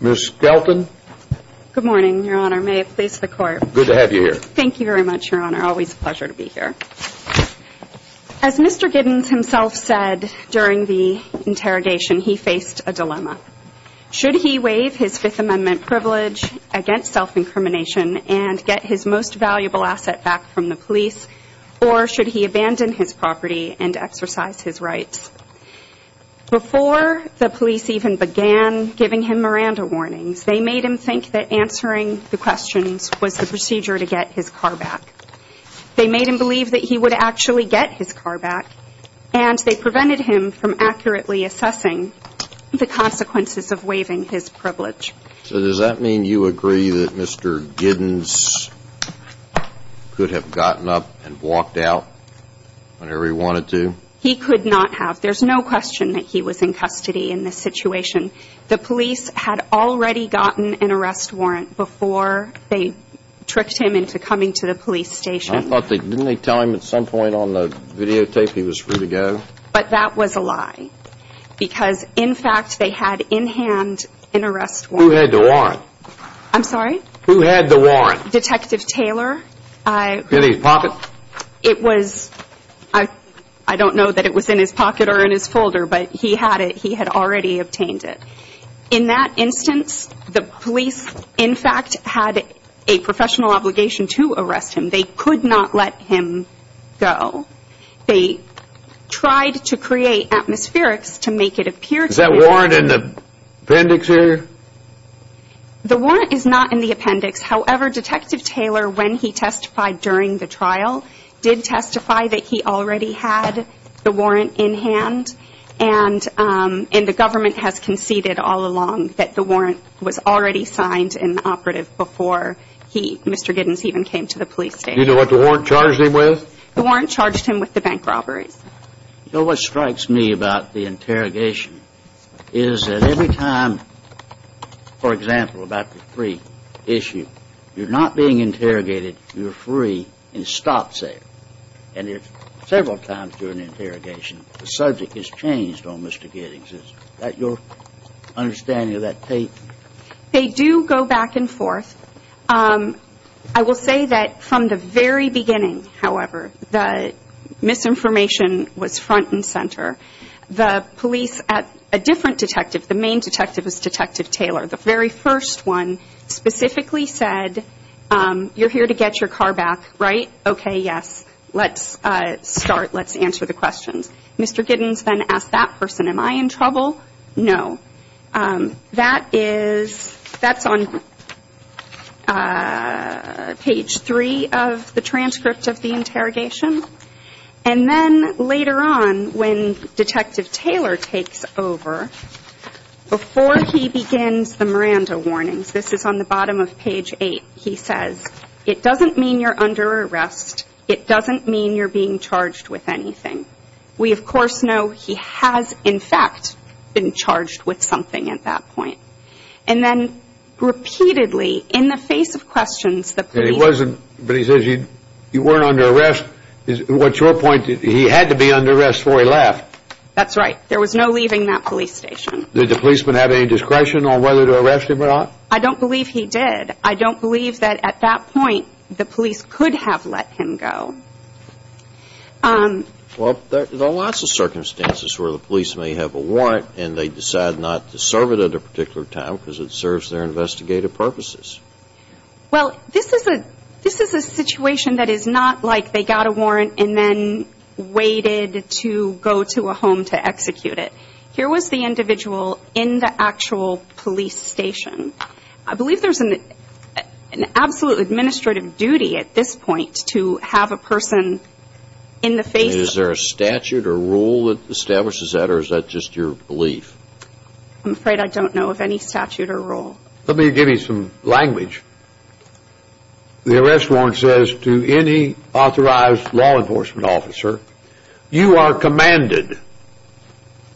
Ms. Skelton. Good morning, your honor. May it please the court. Good to have you here. Thank you very much, your honor. Always a pleasure to be here. As Mr. Giddins himself said during the interrogation, he faced a dilemma. Should he waive his Fifth Amendment privilege against self-incrimination and get his most valuable asset back from the police, or should he abandon his property and exercise his rights? Before the police even began giving him Miranda warnings, they made him think that answering the questions was the procedure to get his car back. They made him believe that he would actually get his car back, and they prevented him from accurately assessing the consequences of waiving his privilege. So does that mean you agree that Mr. Giddins could have gotten up and walked out whenever he wanted to? He could not have. There's no question that he was in custody in this situation. The police had already gotten an arrest warrant before they tricked him into coming to the police station. Didn't they tell him at some point on the videotape he was free to go? But that was a lie because, in fact, they had in hand an arrest warrant. Who had the warrant? I'm sorry? Who had the warrant? Detective Taylor. Did he pop it? It was, I don't know that it was in his pocket or in his folder, but he had it. He had already obtained it. In that instance, the police, in fact, had a professional obligation to arrest him. They could not let him go. They tried to create atmospherics to make it appear to him. Is that warrant in the appendix here? The warrant is not in the appendix. However, Detective Taylor, when he testified during the trial, did testify that he already had the warrant in hand. And the government has conceded all along that the warrant was already signed in the operative before Mr. Giddens even came to the police station. Do you know what the warrant charged him with? The warrant charged him with the bank robberies. You know what strikes me about the interrogation is that every time, for example, about the free issue, you're not being interrogated. You're free and stop safe. And several times during the interrogation, the subject is changed on Mr. Giddens. Is that your understanding of that tape? They do go back and forth. I will say that from the very beginning, however, the misinformation was front and center. The police at a different detective, the main detective is Detective Taylor. The very first one specifically said, you're here to get your car back, right? Okay, yes. Let's start. Let's answer the questions. Mr. Giddens then asked that person, am I in trouble? No. That is, that's on page three of the transcript of the interrogation. And then later on, when Detective Taylor takes over, before he begins the Miranda warnings, this is on the bottom of page eight. He says, it doesn't mean you're under arrest. It doesn't mean you're being charged with anything. We, of course, know he has, in fact, been charged with something at that point. And then repeatedly, in the face of questions, the police. But he says you weren't under arrest. What's your point? He had to be under arrest before he left. That's right. There was no leaving that police station. Did the policeman have any discretion on whether to arrest him or not? I don't believe he did. I don't believe that at that point the police could have let him go. Well, there are lots of circumstances where the police may have a warrant and they decide not to serve it at a particular time because it serves their investigative purposes. Well, this is a situation that is not like they got a warrant and then waited to go to a home to execute it. Here was the individual in the actual police station. I believe there's an absolute administrative duty at this point to have a person in the face of it. Is there a statute or rule that establishes that or is that just your belief? I'm afraid I don't know of any statute or rule. Let me give you some language. The arrest warrant says to any authorized law enforcement officer, you are commanded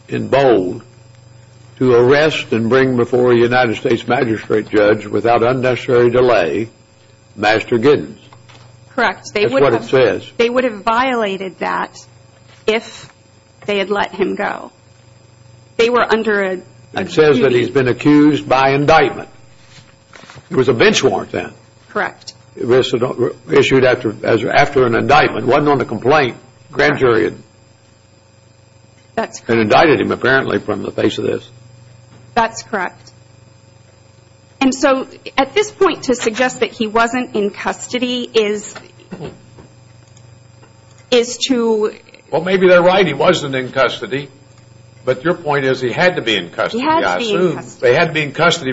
in bold to arrest and bring before a United States magistrate judge without unnecessary delay Master Giddens. Correct. That's what it says. They would have violated that if they had let him go. They were under a duty. It says that he's been accused by indictment. It was a bench warrant then. Correct. Issued after an indictment. It wasn't on the complaint. Grand jury had indicted him apparently from the face of this. That's correct. And so at this point to suggest that he wasn't in custody is to... Well, maybe they're right. He wasn't in custody. But your point is he had to be in custody. He had to be in custody. They had to be in custody.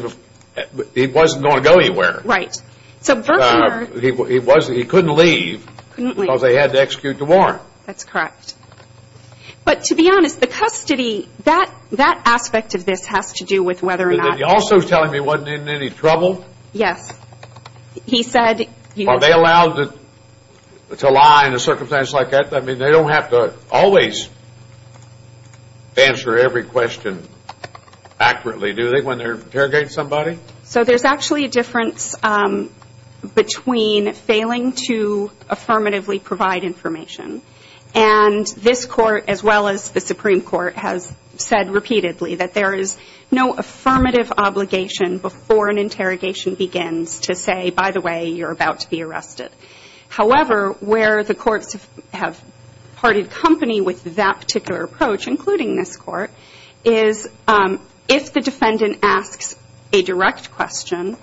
He wasn't going to go anywhere. Right. So Berkner... He couldn't leave because they had to execute the warrant. That's correct. But to be honest, the custody, that aspect of this has to do with whether or not... You're also telling me he wasn't in any trouble? Yes. He said... Are they allowed to lie in a circumstance like that? I mean, they don't have to always answer every question accurately, do they, when they're interrogating somebody? So there's actually a difference between failing to affirmatively provide information. And this court, as well as the Supreme Court, has said repeatedly that there is no affirmative obligation before an interrogation begins to say, by the way, you're about to be arrested. However, where the courts have parted company with that particular approach, including this court, is if the defendant asks a direct question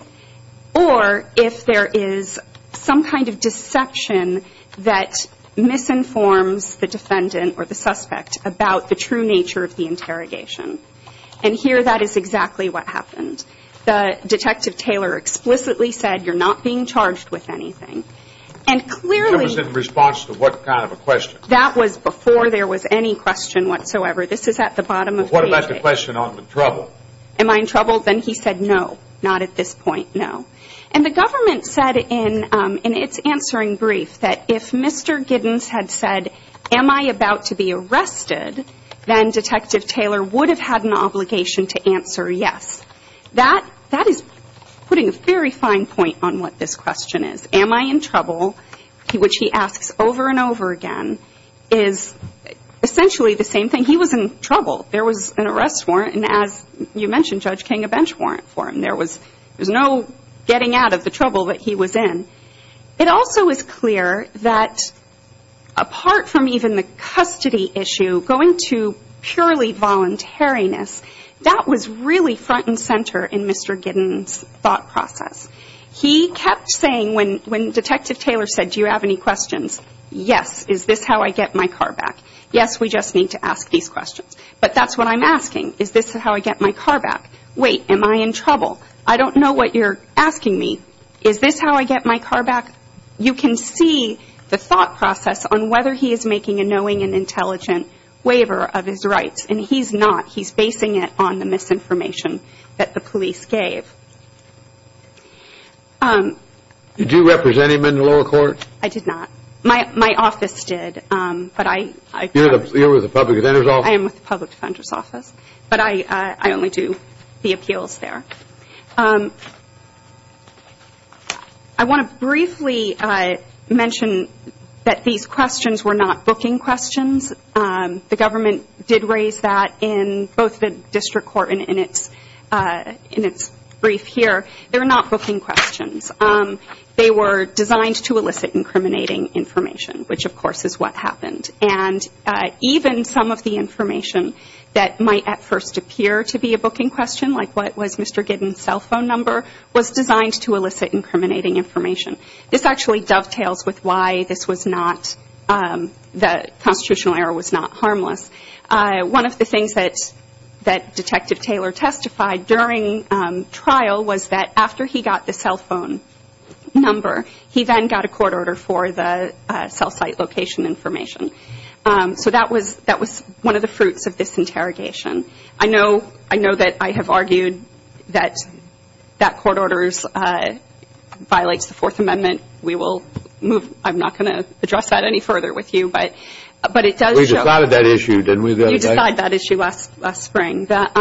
or if there is some kind of deception that misinforms the defendant or the suspect about the true nature of the interrogation. And here, that is exactly what happened. Detective Taylor explicitly said, you're not being charged with anything. And clearly... That was in response to what kind of a question? That was before there was any question whatsoever. This is at the bottom of the page. What about the question on the trouble? Am I in trouble? Then he said, no, not at this point, no. And the government said in its answering brief that if Mr. Giddens had said, am I about to be arrested, then Detective Taylor would have had an obligation to answer yes. That is putting a very fine point on what this question is. Am I in trouble, which he asks over and over again, is essentially the same thing. He was in trouble. There was an arrest warrant, and as you mentioned, Judge King, a bench warrant for him. There was no getting out of the trouble that he was in. It also is clear that apart from even the custody issue, going to purely voluntariness, that was really front and center in Mr. Giddens' thought process. He kept saying when Detective Taylor said, do you have any questions, yes, is this how I get my car back? Yes, we just need to ask these questions. But that's what I'm asking. Is this how I get my car back? Wait, am I in trouble? I don't know what you're asking me. Is this how I get my car back? You can see the thought process on whether he is making a knowing and intelligent waiver of his rights, and he's not. He's basing it on the misinformation that the police gave. Did you represent him in the lower court? I did not. My office did. You're with the Public Defender's Office? I am with the Public Defender's Office, but I only do the appeals there. I want to briefly mention that these questions were not booking questions. The government did raise that in both the district court and in its brief here. They were not booking questions. They were designed to elicit incriminating information, which, of course, is what happened. And even some of the information that might at first appear to be a booking question, like what was Mr. Giddens' cell phone number, was designed to elicit incriminating information. This actually dovetails with why this was not the constitutional error was not harmless. One of the things that Detective Taylor testified during trial was that after he got the cell phone number, he then got a court order for the cell site location information. So that was one of the fruits of this interrogation. I know that I have argued that that court order violates the Fourth Amendment. We will move – I'm not going to address that any further with you, but it does show – You decided that issue last spring. But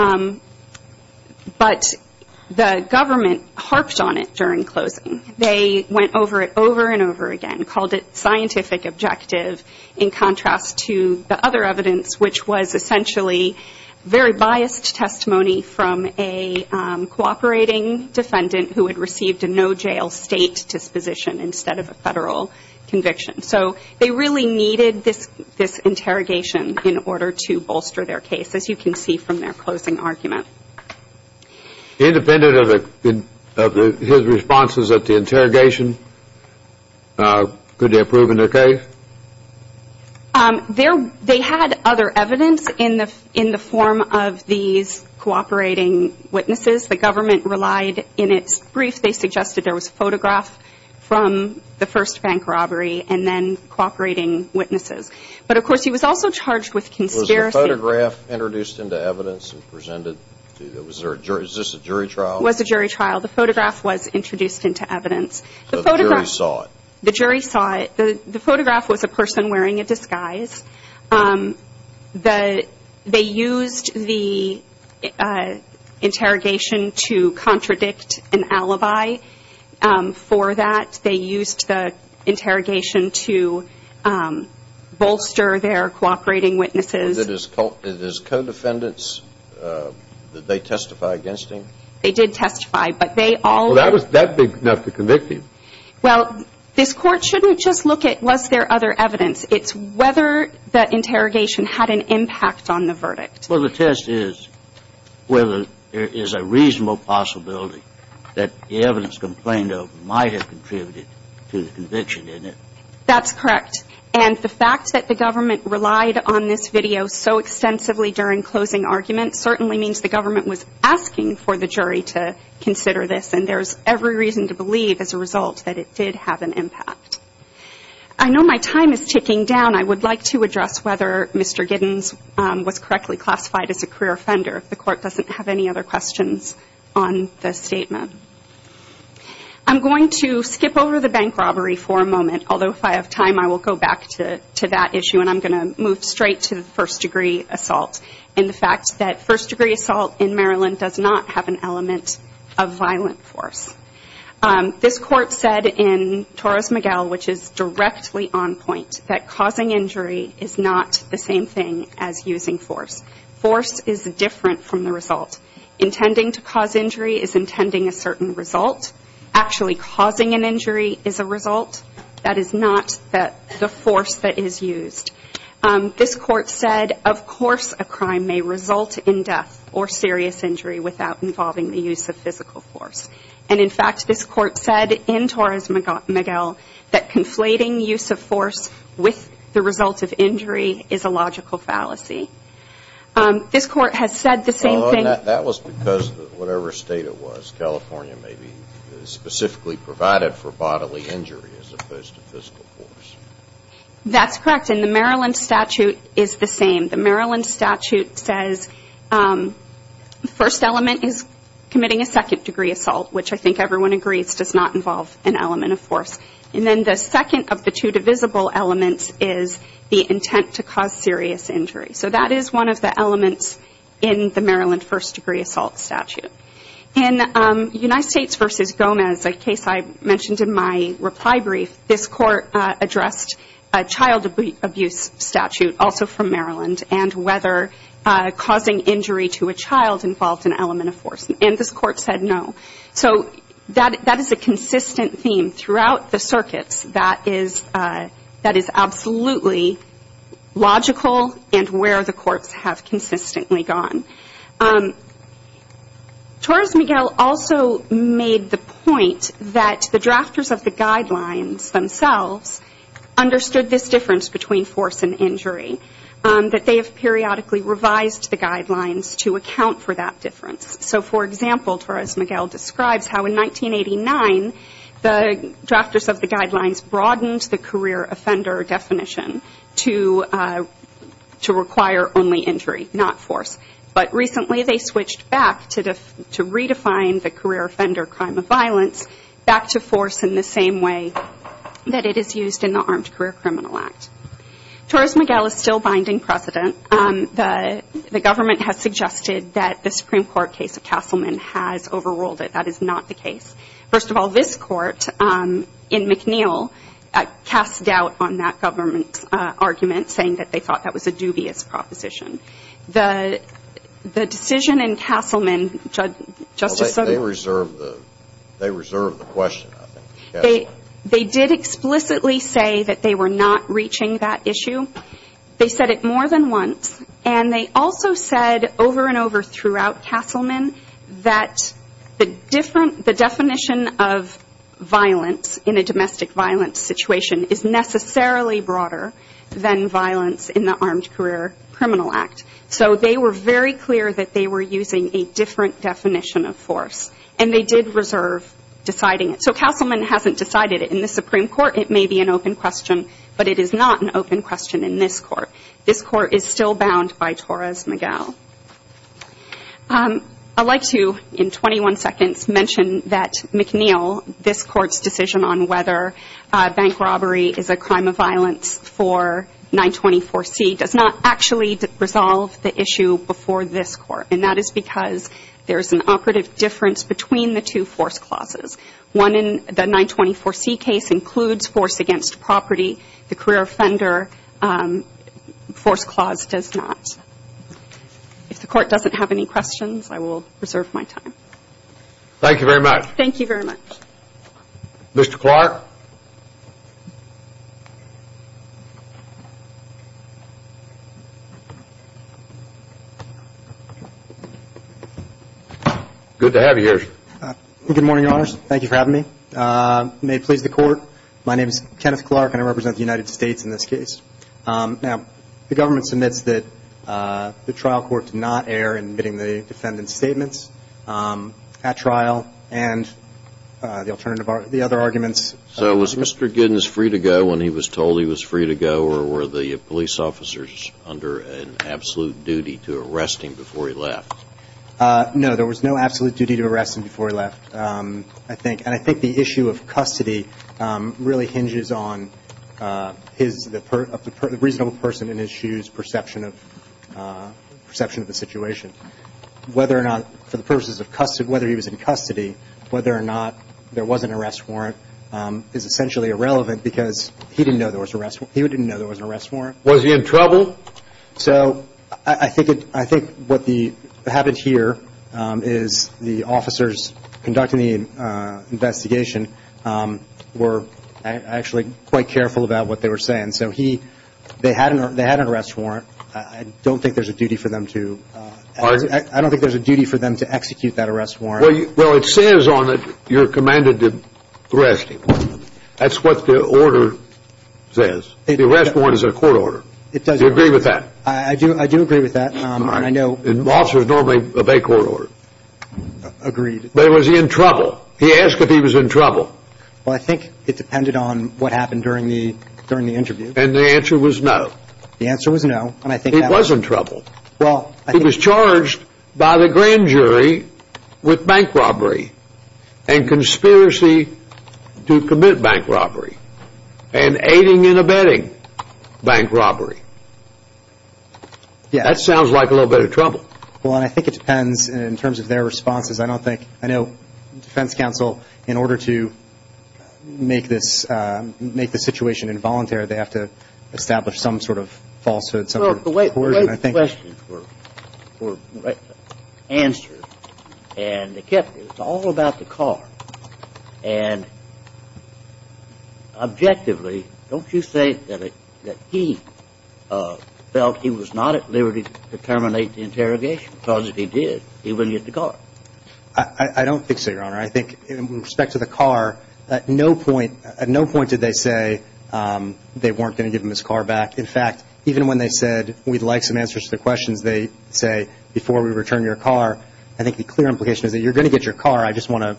the government harped on it during closing. They went over it over and over again, called it scientific objective in contrast to the other evidence, which was essentially very biased testimony from a cooperating defendant who had received a no-jail state disposition instead of a federal conviction. So they really needed this interrogation in order to bolster their case, as you can see from their closing argument. Independent of his responses at the interrogation, could they have proven their case? They had other evidence in the form of these cooperating witnesses. The government relied in its brief. They suggested there was a photograph from the first bank robbery and then cooperating witnesses. But, of course, he was also charged with conspiracy. Was the photograph introduced into evidence and presented? Is this a jury trial? It was a jury trial. The photograph was introduced into evidence. So the jury saw it? The jury saw it. The photograph was a person wearing a disguise. They used the interrogation to contradict an alibi for that. They used the interrogation to bolster their cooperating witnesses. Was it his co-defendants? Did they testify against him? They did testify, but they all... Well, that was that big enough to convict him. Well, this Court shouldn't just look at was there other evidence. It's whether that interrogation had an impact on the verdict. Well, the test is whether there is a reasonable possibility that the evidence complained of might have contributed to the conviction, isn't it? That's correct. And the fact that the government relied on this video so extensively during closing arguments certainly means the government was asking for the jury to consider this. And there's every reason to believe, as a result, that it did have an impact. I know my time is ticking down. I would like to address whether Mr. Giddens was correctly classified as a career offender, if the Court doesn't have any other questions on the statement. I'm going to skip over the bank robbery for a moment, although if I have time I will go back to that issue, and I'm going to move straight to the first-degree assault and the fact that first-degree assault in Maryland does not have an element of violent force. This Court said in Torres-Miguel, which is directly on point, that causing injury is not the same thing as using force. Force is different from the result. Intending to cause injury is intending a certain result. Actually causing an injury is a result. That is not the force that is used. This Court said, of course, a crime may result in death or serious injury without involving the use of physical force. And, in fact, this Court said in Torres-Miguel that conflating use of force with the result of injury is a logical fallacy. This Court has said the same thing. That was because whatever state it was, California may be specifically provided for bodily injury as opposed to physical force. That's correct, and the Maryland statute is the same. The Maryland statute says the first element is committing a second-degree assault, which I think everyone agrees does not involve an element of force. And then the second of the two divisible elements is the intent to cause serious injury. So that is one of the elements in the Maryland first-degree assault statute. In United States v. Gomez, a case I mentioned in my reply brief, this Court addressed a child abuse statute also from Maryland and whether causing injury to a child involved an element of force. And this Court said no. So that is a consistent theme throughout the circuits that is absolutely logical and where the courts have consistently gone. Torres-Miguel also made the point that the drafters of the guidelines themselves understood this difference between force and injury, that they have periodically revised the guidelines to account for that difference. So, for example, Torres-Miguel describes how in 1989 the drafters of the guidelines broadened the career offender definition to require only injury, not force, but recently they switched back to redefine the career offender crime of violence back to force in the same way that it is used in the Armed Career Criminal Act. Torres-Miguel is still binding precedent. The government has suggested that the Supreme Court case of Castleman has overruled it. That is not the case. First of all, this Court in McNeil cast doubt on that government argument, saying that they thought that was a dubious proposition. The decision in Castleman, Justice Sotomayor. They reserved the question, I think. They did explicitly say that they were not reaching that issue. They said it more than once, and they also said over and over throughout Castleman that the definition of violence in a domestic violence situation is necessarily broader than violence in the Armed Career Criminal Act. So they were very clear that they were using a different definition of force, and they did reserve deciding it. So Castleman hasn't decided it in the Supreme Court. It may be an open question, but it is not an open question in this Court. This Court is still bound by Torres-Miguel. I'd like to, in 21 seconds, mention that McNeil, this Court's decision on whether bank robbery is a crime of violence for 924C, does not actually resolve the issue before this Court, and that is because there is an operative difference between the two force clauses. One in the 924C case includes force against property. The career offender force clause does not. If the Court doesn't have any questions, I will reserve my time. Thank you very much. Mr. Clark? Good to have you here. Good morning, Your Honors. Thank you for having me. May it please the Court, my name is Kenneth Clark, and I represent the United States in this case. Now, the government submits that the trial court did not err in admitting the defendant's statements at trial, and the alternative, the other arguments. So was Mr. Giddens free to go when he was told he was free to go, or were the police officers under an absolute duty to arrest him before he left? No, there was no absolute duty to arrest him before he left, I think. And I think the issue of custody really hinges on his, the reasonable person in his shoes' perception of the situation. Whether or not, for the purposes of custody, whether he was in custody, whether or not there was an arrest warrant is essentially irrelevant because he didn't know there was an arrest warrant. Was he in trouble? So I think what happened here is the officers conducting the investigation were actually quite careful about what they were saying. And so they had an arrest warrant. I don't think there's a duty for them to execute that arrest warrant. Well, it says on it, you're commanded to arrest him. That's what the order says. The arrest warrant is a court order. It does. Do you agree with that? I do agree with that. All right. And officers normally obey court order. Agreed. But was he in trouble? He asked if he was in trouble. Well, I think it depended on what happened during the interview. And the answer was no. The answer was no. It wasn't trouble. He was charged by the grand jury with bank robbery and conspiracy to commit bank robbery and aiding and abetting bank robbery. That sounds like a little bit of trouble. Well, I think it depends in terms of their responses. I know defense counsel, in order to make this situation involuntary, they have to establish some sort of falsehood, some sort of coercion. Well, the way the questions were answered and they kept it, it's all about the car. And objectively, don't you think that he felt he was not at liberty to terminate the interrogation? Because if he did, he wouldn't get the car. I don't think so, Your Honor. I think in respect to the car, at no point did they say they weren't going to give him his car back. In fact, even when they said, we'd like some answers to the questions, they say, before we return your car, I think the clear implication is that you're going to get your car. I just want to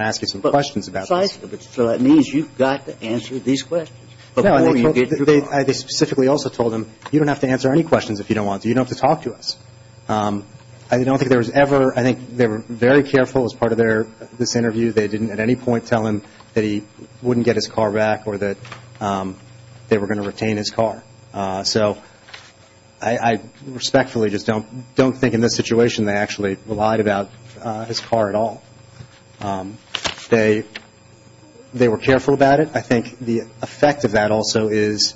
ask you some questions about this. So that means you've got to answer these questions before you get your car. No. They specifically also told him, you don't have to answer any questions if you don't want to. You don't have to talk to us. I don't think there was ever, I think they were very careful as part of this interview, they didn't at any point tell him that he wouldn't get his car back or that they were going to retain his car. So I respectfully just don't think in this situation they actually lied about his car at all. They were careful about it. I think the effect of that also is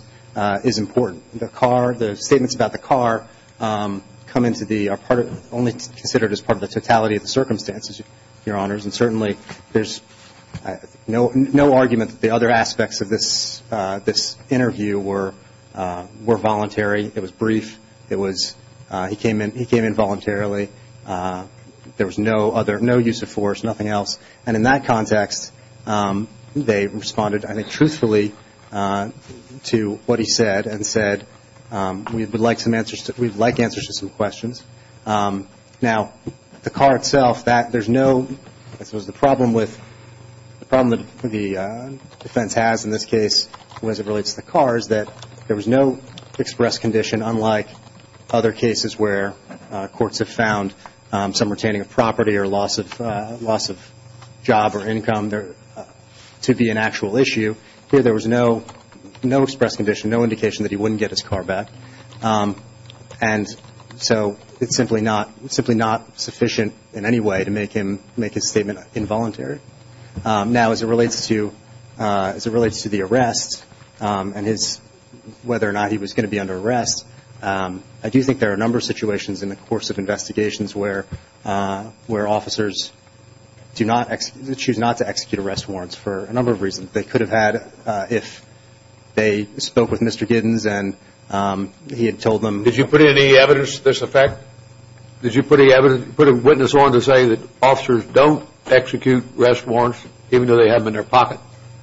important. The statements about the car are only considered as part of the totality of the circumstances, Your Honors, and certainly there's no argument that the other aspects of this interview were voluntary. It was brief. He came in voluntarily. There was no use of force, nothing else. And in that context, they responded, I think, truthfully to what he said and said we'd like answers to some questions. Now, the car itself, there's no, I suppose the problem with the defense has in this case as it relates to the car is that there was no express condition unlike other cases where courts have found some retaining of property or loss of job or income to be an actual issue. Here there was no express condition, no indication that he wouldn't get his car back. And so it's simply not sufficient in any way to make his statement involuntary. Now, as it relates to the arrest and whether or not he was going to be under arrest, I do think there are a number of situations in the course of investigations where officers choose not to execute arrest warrants for a number of reasons. They could have had if they spoke with Mr. Giddens and he had told them. Did you put any evidence to this effect? Did you put a witness on to say that officers don't execute arrest warrants even though they have them in their pocket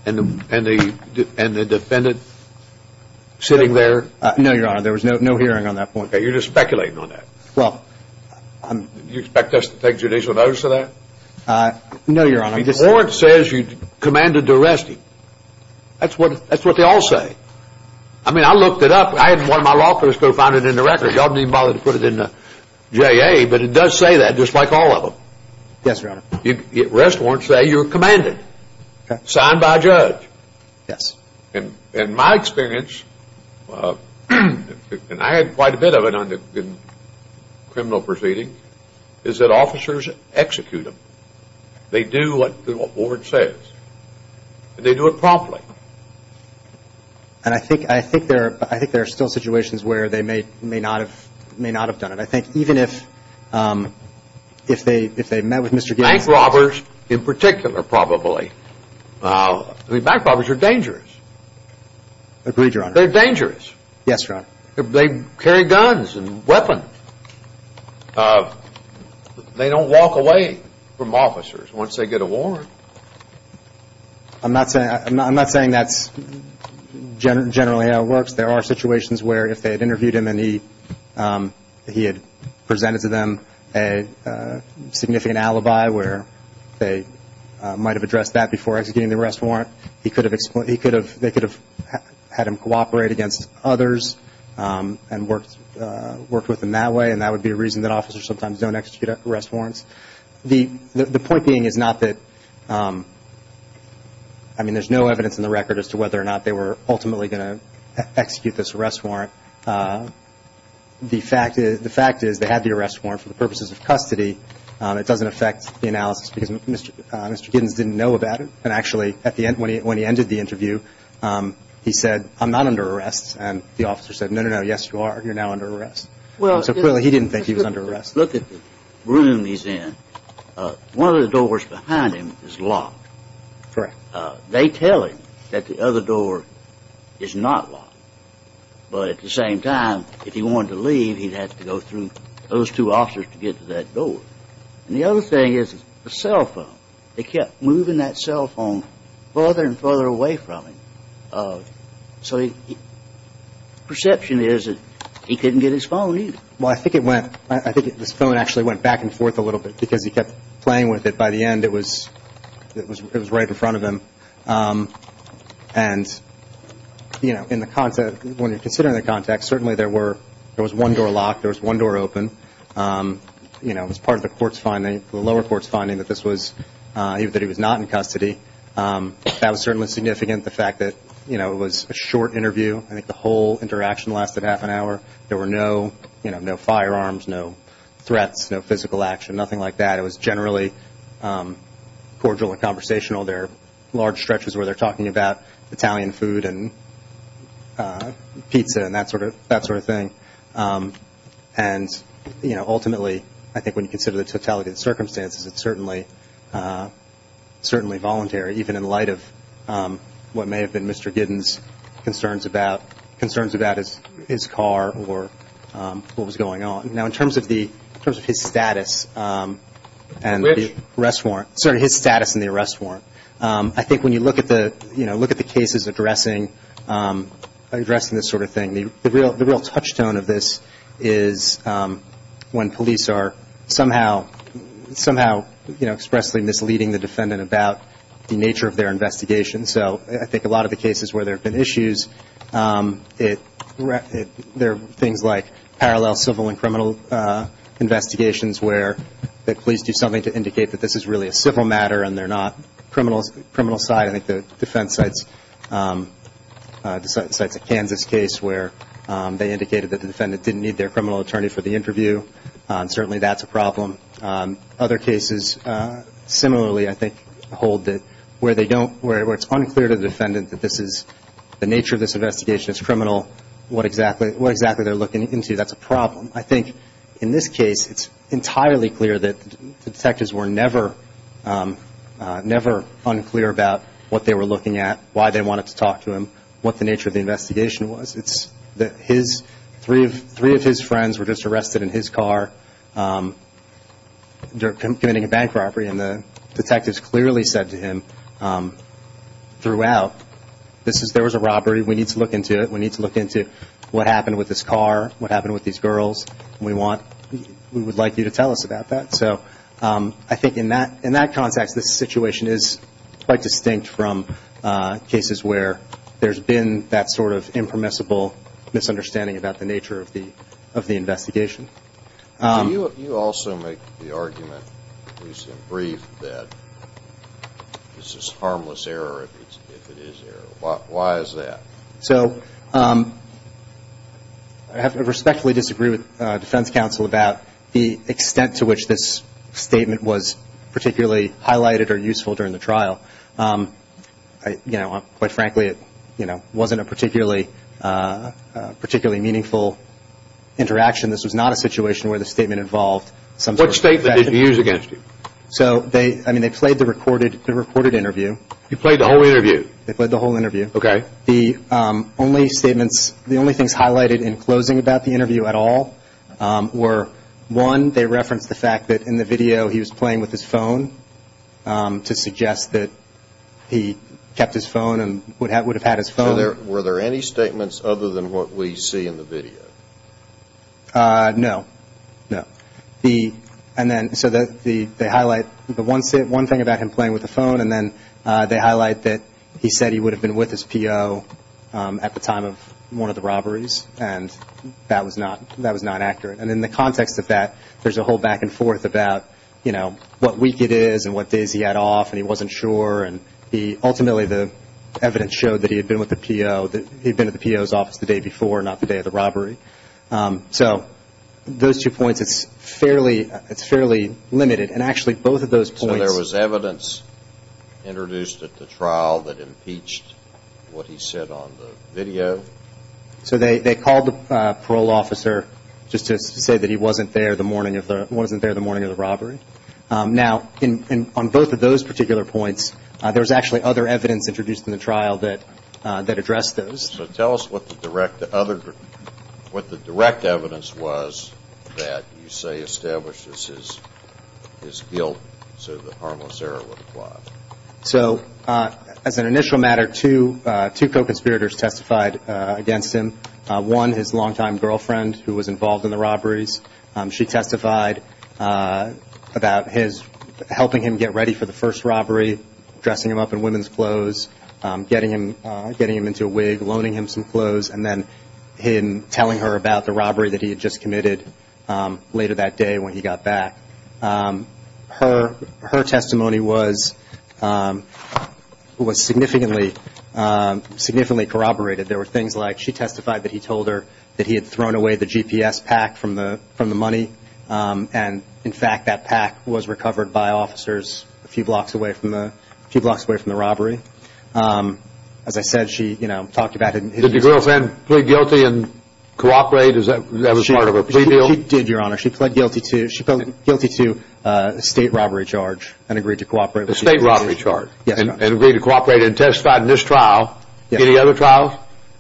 and the defendant sitting there? No, Your Honor, there was no hearing on that point. Okay, you're just speculating on that. Do you expect us to take judicial notice of that? No, Your Honor. The warrant says you commanded the arresting. That's what they all say. I mean, I looked it up. I had one of my law clerks go find it in the records. I didn't even bother to put it in the JA, but it does say that just like all of them. Yes, Your Honor. Arrest warrants say you were commanded, signed by a judge. Yes. In my experience, and I had quite a bit of it in criminal proceedings, is that officers execute them. They do what the warrant says, and they do it promptly. And I think there are still situations where they may not have done it. I think even if they met with Mr. Giddens. Bank robbers in particular probably. Bank robbers are dangerous. Agreed, Your Honor. They're dangerous. Yes, Your Honor. They carry guns and weapons. They don't walk away from officers once they get a warrant. I'm not saying that's generally how it works. There are situations where if they had interviewed him and he had presented to them a significant alibi where they might have addressed that before executing the arrest warrant, they could have had him cooperate against others and worked with them that way, and that would be a reason that officers sometimes don't execute arrest warrants. The point being is not that, I mean, there's no evidence in the record as to whether or not they were ultimately going to execute this arrest warrant. The fact is they had the arrest warrant for the purposes of custody. It doesn't affect the analysis because Mr. Giddens didn't know about it. And actually when he ended the interview, he said, I'm not under arrest. And the officer said, no, no, no, yes, you are. You're now under arrest. So clearly he didn't think he was under arrest. Look at the room he's in. One of the doors behind him is locked. Correct. They tell him that the other door is not locked. But at the same time, if he wanted to leave, he'd have to go through those two officers to get to that door. And the other thing is the cell phone. They kept moving that cell phone further and further away from him. So the perception is that he couldn't get his phone either. Well, I think it went, I think his phone actually went back and forth a little bit because he kept playing with it. But by the end, it was right in front of him. And, you know, in the context, when you're considering the context, certainly there was one door locked, there was one door open. You know, it was part of the court's finding, the lower court's finding, that this was, that he was not in custody. That was certainly significant, the fact that, you know, it was a short interview. I think the whole interaction lasted half an hour. There were no firearms, no threats, no physical action, nothing like that. It was generally cordial and conversational. There were large stretches where they're talking about Italian food and pizza and that sort of thing. And, you know, ultimately, I think when you consider the totality of the circumstances, it's certainly voluntary, even in light of what may have been Mr. Giddens' concerns about his car or what was going on. Now, in terms of his status and the arrest warrant. I think when you look at the cases addressing this sort of thing, the real touchstone of this is when police are somehow, you know, expressly misleading the defendant about the nature of their investigation. So I think a lot of the cases where there have been issues, there are things like parallel civil and criminal investigations where the police do something to indicate that this is really a civil matter and they're not criminal side. I think the defense cites a Kansas case where they indicated that the defendant didn't need their criminal attorney for the interview. Certainly that's a problem. Other cases similarly, I think, hold that where it's unclear to the defendant that this is the nature of this investigation is criminal, what exactly they're looking into. That's a problem. I think in this case, it's entirely clear that the detectives were never unclear about what they were looking at, why they wanted to talk to him, what the nature of the investigation was. Three of his friends were just arrested in his car. They're committing a bank robbery, and the detectives clearly said to him throughout, there was a robbery, we need to look into it, we need to look into what happened with his car, what happened with these girls, we would like you to tell us about that. So I think in that context, this situation is quite distinct from cases where there's been that sort of impermissible misunderstanding about the nature of the investigation. You also make the argument, at least in brief, that this is harmless error, if it is error. Why is that? So I have to respectfully disagree with defense counsel about the extent to which this statement was particularly highlighted or useful during the trial. Quite frankly, it wasn't a particularly meaningful interaction. This was not a situation where the statement involved some sort of... What statement did he use against you? I mean, they played the recorded interview. You played the whole interview? They played the whole interview. Okay. The only statements, the only things highlighted in closing about the interview at all were one, they referenced the fact that in the video he was playing with his phone to suggest that he kept his phone and would have had his phone. Were there any statements other than what we see in the video? No. No. So they highlight the one thing about him playing with the phone, and then they highlight that he said he would have been with his P.O. at the time of one of the robberies, and that was not accurate. And in the context of that, there's a whole back and forth about, you know, what week it is and what days he had off and he wasn't sure. And ultimately the evidence showed that he had been with the P.O., that he had been at the P.O.'s office the day before, not the day of the robbery. So those two points, it's fairly limited. And actually both of those points... So there was evidence introduced at the trial that impeached what he said on the video? So they called the parole officer just to say that he wasn't there the morning of the robbery. Now, on both of those particular points, there was actually other evidence introduced in the trial that addressed those. So tell us what the direct evidence was that you say establishes his guilt so that harmless error would apply. So as an initial matter, two co-conspirators testified against him. One, his longtime girlfriend who was involved in the robberies. She testified about his helping him get ready for the first robbery, dressing him up in women's clothes, getting him into a wig, loaning him some clothes, and then him telling her about the robbery that he had just committed later that day when he got back. Her testimony was significantly corroborated. There were things like she testified that he told her that he had thrown away the GPS pack from the money and, in fact, that pack was recovered by officers a few blocks away from the robbery. As I said, she talked about it. Did your girlfriend plead guilty and cooperate? That was part of her plea deal? She did, Your Honor. She pled guilty to a state robbery charge and agreed to cooperate. A state robbery charge? Yes, Your Honor. And agreed to cooperate and testified in this trial. Any other trials?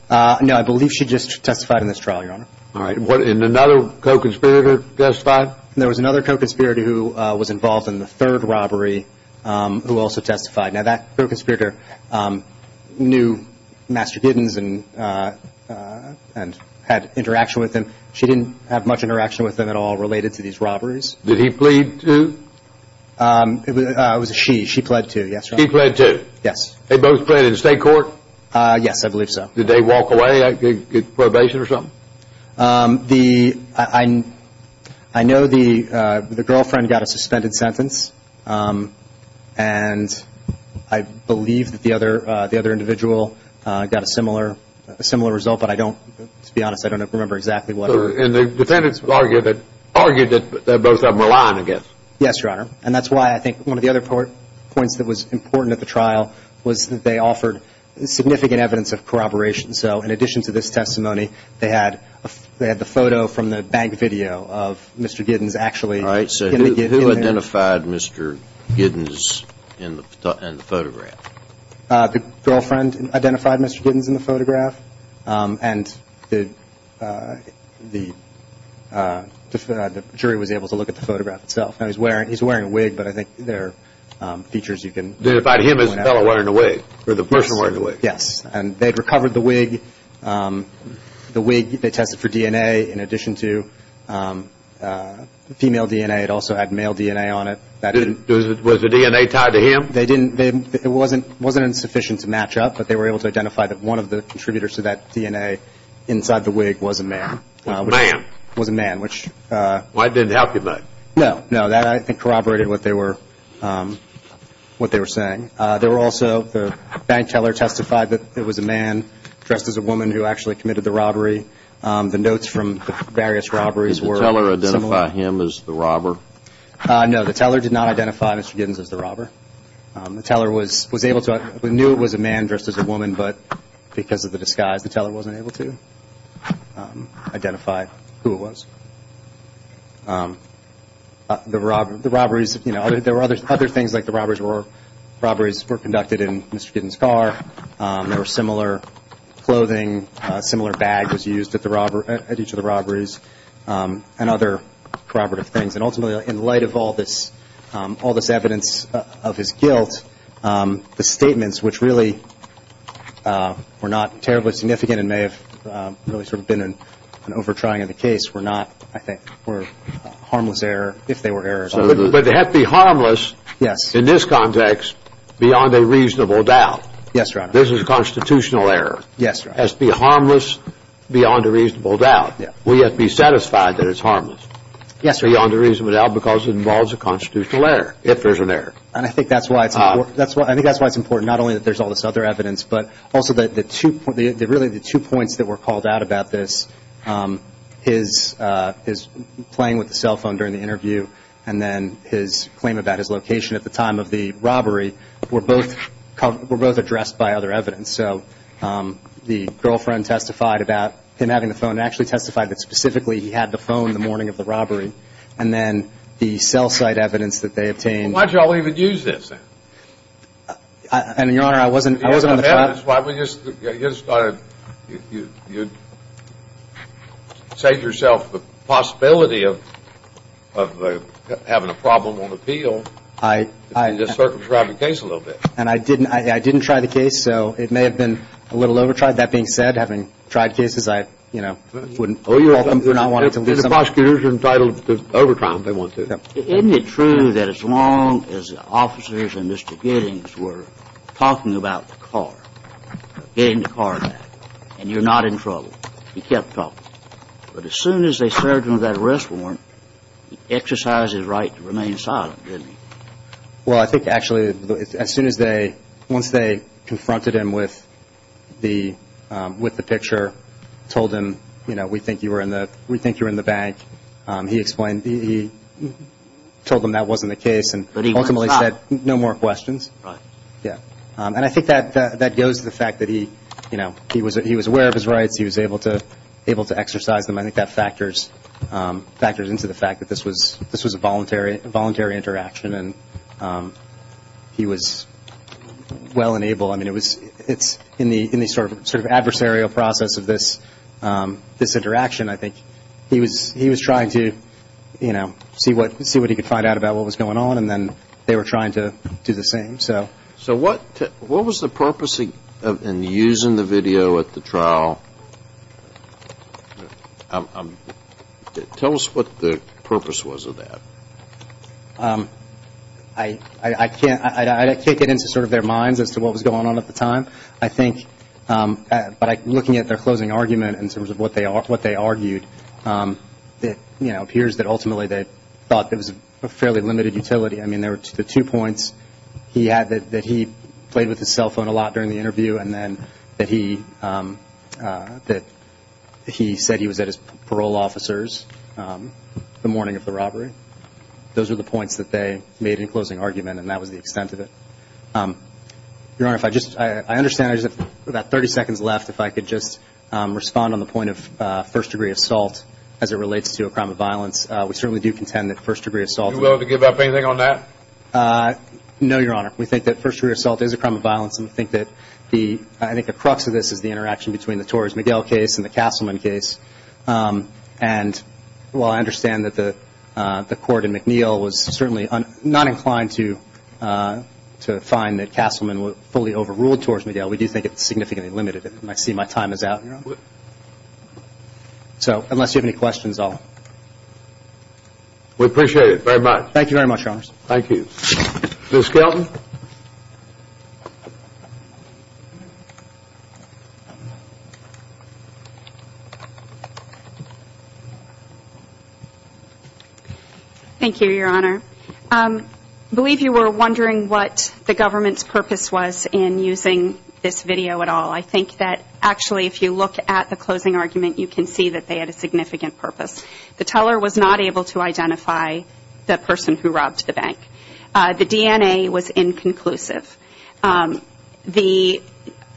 No, I believe she just testified in this trial, Your Honor. All right. And another co-conspirator testified? There was another co-conspirator who was involved in the third robbery who also testified. Now, that co-conspirator knew Master Giddens and had interaction with him. She didn't have much interaction with him at all related to these robberies. Did he plead to? It was a she. She pled to, yes, Your Honor. She pled to? Yes. They both pled in state court? Yes, I believe so. Did they walk away? Get probation or something? I know the girlfriend got a suspended sentence, and I believe that the other individual got a similar result, but I don't, to be honest, I don't remember exactly what her. And the defendants argued that both of them were lying, I guess. Yes, Your Honor. And that's why I think one of the other points that was important at the trial was that they offered significant evidence of corroboration. So in addition to this testimony, they had the photo from the bank video of Mr. Giddens actually. All right. So who identified Mr. Giddens in the photograph? The girlfriend identified Mr. Giddens in the photograph, and the jury was able to look at the photograph itself. Now, he's wearing a wig, but I think there are features you can point out. They identified him as the fellow wearing the wig, or the person wearing the wig. Yes, and they had recovered the wig. The wig, they tested for DNA in addition to female DNA. It also had male DNA on it. Was the DNA tied to him? It wasn't insufficient to match up, but they were able to identify that one of the contributors to that DNA inside the wig was a man. A man. Was a man, which... Well, that didn't help you much. No, no. That, I think, corroborated what they were saying. There were also the bank teller testified that it was a man dressed as a woman who actually committed the robbery. The notes from the various robberies were... Did the teller identify him as the robber? No, the teller did not identify Mr. Giddens as the robber. The teller was able to... We knew it was a man dressed as a woman, but because of the disguise, the teller wasn't able to identify who it was. The robberies... There were other things like the robberies were conducted in Mr. Giddens' car. There were similar clothing. A similar bag was used at each of the robberies and other corroborative things. And ultimately, in light of all this evidence of his guilt, the statements, which really were not terribly significant and may have really sort of been an over-trying of the case, were not, I think, were harmless error, if they were errors. But they have to be harmless... Yes. ...in this context beyond a reasonable doubt. Yes, Your Honor. This is a constitutional error. Yes, Your Honor. It has to be harmless beyond a reasonable doubt. Yes. We have to be satisfied that it's harmless... ...beyond a reasonable doubt because it involves a constitutional error, if there's an error. And I think that's why it's important. I think that's why it's important, not only that there's all this other evidence, but also that really the two points that were called out about this, his playing with the cell phone during the interview and then his claim about his location at the time of the robbery, were both addressed by other evidence. So the girlfriend testified about him having the phone and actually testified that specifically he had the phone the morning of the robbery. And then the cell site evidence that they obtained... Why did you all even use this, then? And, Your Honor, I wasn't on the trial. That's why we just thought you'd save yourself the possibility of having a problem on appeal... I... ...if you just circumscribed the case a little bit. And I didn't. I didn't try the case, so it may have been a little over-tried. That being said, having tried cases, I, you know, wouldn't fault them for not wanting to lose something. The prosecutors are entitled to over-try them if they want to. Isn't it true that as long as the officers and Mr. Giddings were talking about the car, getting the car back, and you're not in trouble, he kept talking? But as soon as they served him that arrest warrant, he exercised his right to remain silent, didn't he? Well, I think, actually, as soon as they... Once they confronted him with the picture, told him, you know, we think you're in the bank, he explained... He told them that wasn't the case and ultimately said, no more questions. Right. Yeah. And I think that goes to the fact that he, you know, he was aware of his rights. He was able to exercise them. I think that factors into the fact that this was a voluntary interaction and he was well enabled. I mean, it's in the sort of adversarial process of this interaction, I think. He was trying to, you know, see what he could find out about what was going on and then they were trying to do the same. So what was the purpose in using the video at the trial? Tell us what the purpose was of that. I can't get into sort of their minds as to what was going on at the time. I think by looking at their closing argument in terms of what they argued, it appears that ultimately they thought it was a fairly limited utility. I mean, there were the two points. He had that he played with his cell phone a lot during the interview and then that he said he was at his parole officers the morning of the robbery. Those are the points that they made in closing argument and that was the extent of it. Your Honor, I understand I just have about 30 seconds left if I could just respond on the point of first degree assault as it relates to a crime of violence. We certainly do contend that first degree assault. Are you willing to give up anything on that? No, Your Honor. We think that first degree assault is a crime of violence and we think that I think the crux of this is the interaction between the Torres-Miguel case and the Castleman case. And while I understand that the court in McNeil was certainly not inclined to find that Castleman fully overruled Torres-Miguel, we do think it's significantly limited. I see my time is out, Your Honor. So unless you have any questions, I'll... We appreciate it very much. Thank you very much, Your Honors. Thank you. Ms. Kelton. Thank you, Your Honor. I believe you were wondering what the government's purpose was in using this video at all. I think that actually if you look at the closing argument, you can see that they had a significant purpose. The teller was not able to identify the person who robbed the bank. The DNA was inconclusive. The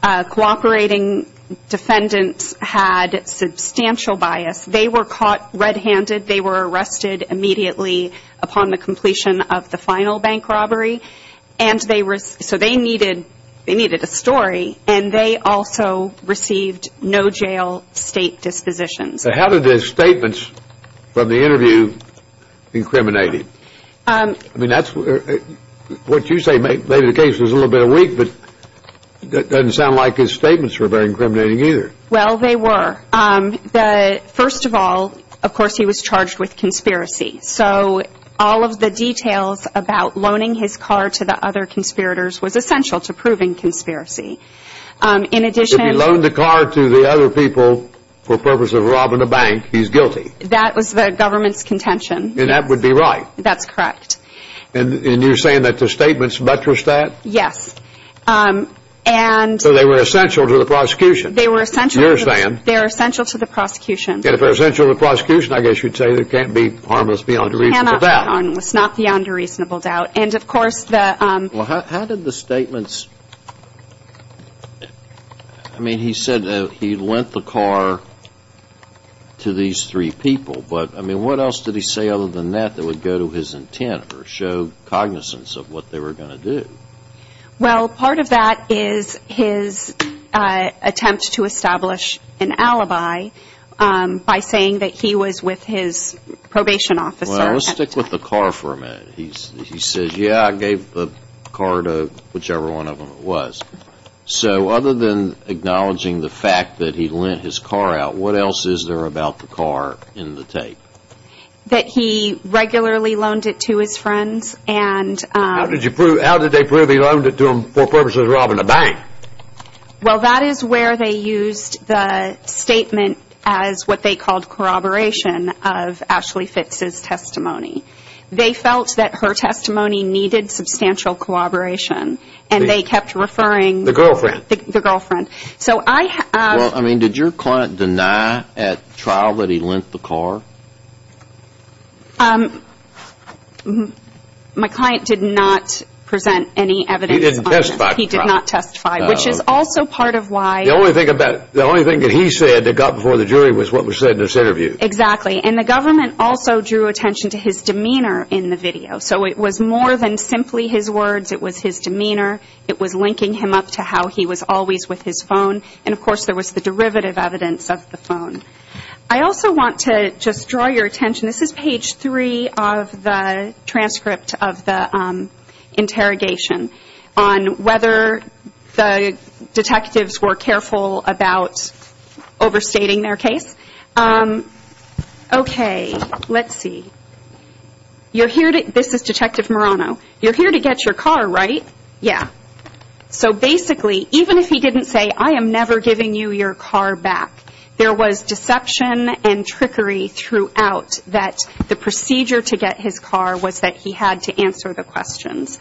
cooperating defendants had substantial bias. They were caught red-handed. They were arrested immediately upon the completion of the final bank robbery. So they needed a story, and they also received no jail state dispositions. So how did the statements from the interview incriminate him? I mean, that's what you say maybe the case was a little bit weak, but it doesn't sound like his statements were very incriminating either. Well, they were. First of all, of course, he was charged with conspiracy. So all of the details about loaning his car to the other conspirators was essential to proving conspiracy. If you loan the car to the other people for the purpose of robbing a bank, he's guilty. That was the government's contention. And that would be right. That's correct. And you're saying that the statements buttressed that? Yes. So they were essential to the prosecution. They were essential to the prosecution. And if they're essential to the prosecution, I guess you'd say they can't be harmless beyond a reasonable doubt. Cannot be harmless beyond a reasonable doubt. Well, how did the statements – I mean, he said that he lent the car to these three people. But, I mean, what else did he say other than that that would go to his intent or show cognizance of what they were going to do? Well, part of that is his attempt to establish an alibi by saying that he was with his probation officer. Well, let's stick with the car for a minute. He says, yeah, I gave the car to whichever one of them it was. So other than acknowledging the fact that he lent his car out, what else is there about the car in the tape? That he regularly loaned it to his friends. How did they prove he loaned it to them for the purpose of robbing a bank? Well, that is where they used the statement as what they called corroboration of Ashley Fitz's testimony. They felt that her testimony needed substantial corroboration, and they kept referring – The girlfriend. The girlfriend. So I – Well, I mean, did your client deny at trial that he lent the car? My client did not present any evidence – He did not testify at trial. He did not testify, which is also part of why – The only thing that he said that got before the jury was what was said in this interview. Exactly. And the government also drew attention to his demeanor in the video. So it was more than simply his words. It was his demeanor. It was linking him up to how he was always with his phone. And, of course, there was the derivative evidence of the phone. I also want to just draw your attention – This is page three of the transcript of the interrogation on whether the detectives were careful about overstating their case. Okay. Let's see. You're here to – This is Detective Marano. You're here to get your car, right? Yeah. So basically, even if he didn't say, I am never giving you your car back, there was deception and trickery throughout that the procedure to get his car was that he had to answer the questions.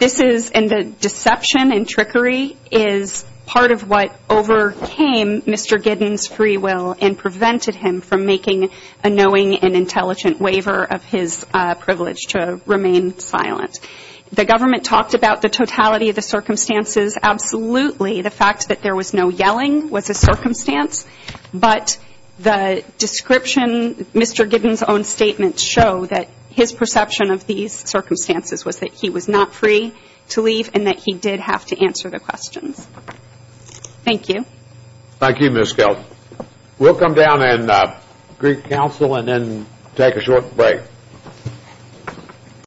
This is – and the deception and trickery is part of what overcame Mr. Giddens' free will and prevented him from making a knowing and intelligent waiver of his privilege to remain silent. The government talked about the totality of the circumstances. Absolutely, the fact that there was no yelling was a circumstance. But the description – Mr. Giddens' own statements show that his perception of these circumstances was that he was not free to leave and that he did have to answer the questions. Thank you. Thank you, Ms. Skelton. We'll come down and greet counsel and then take a short break.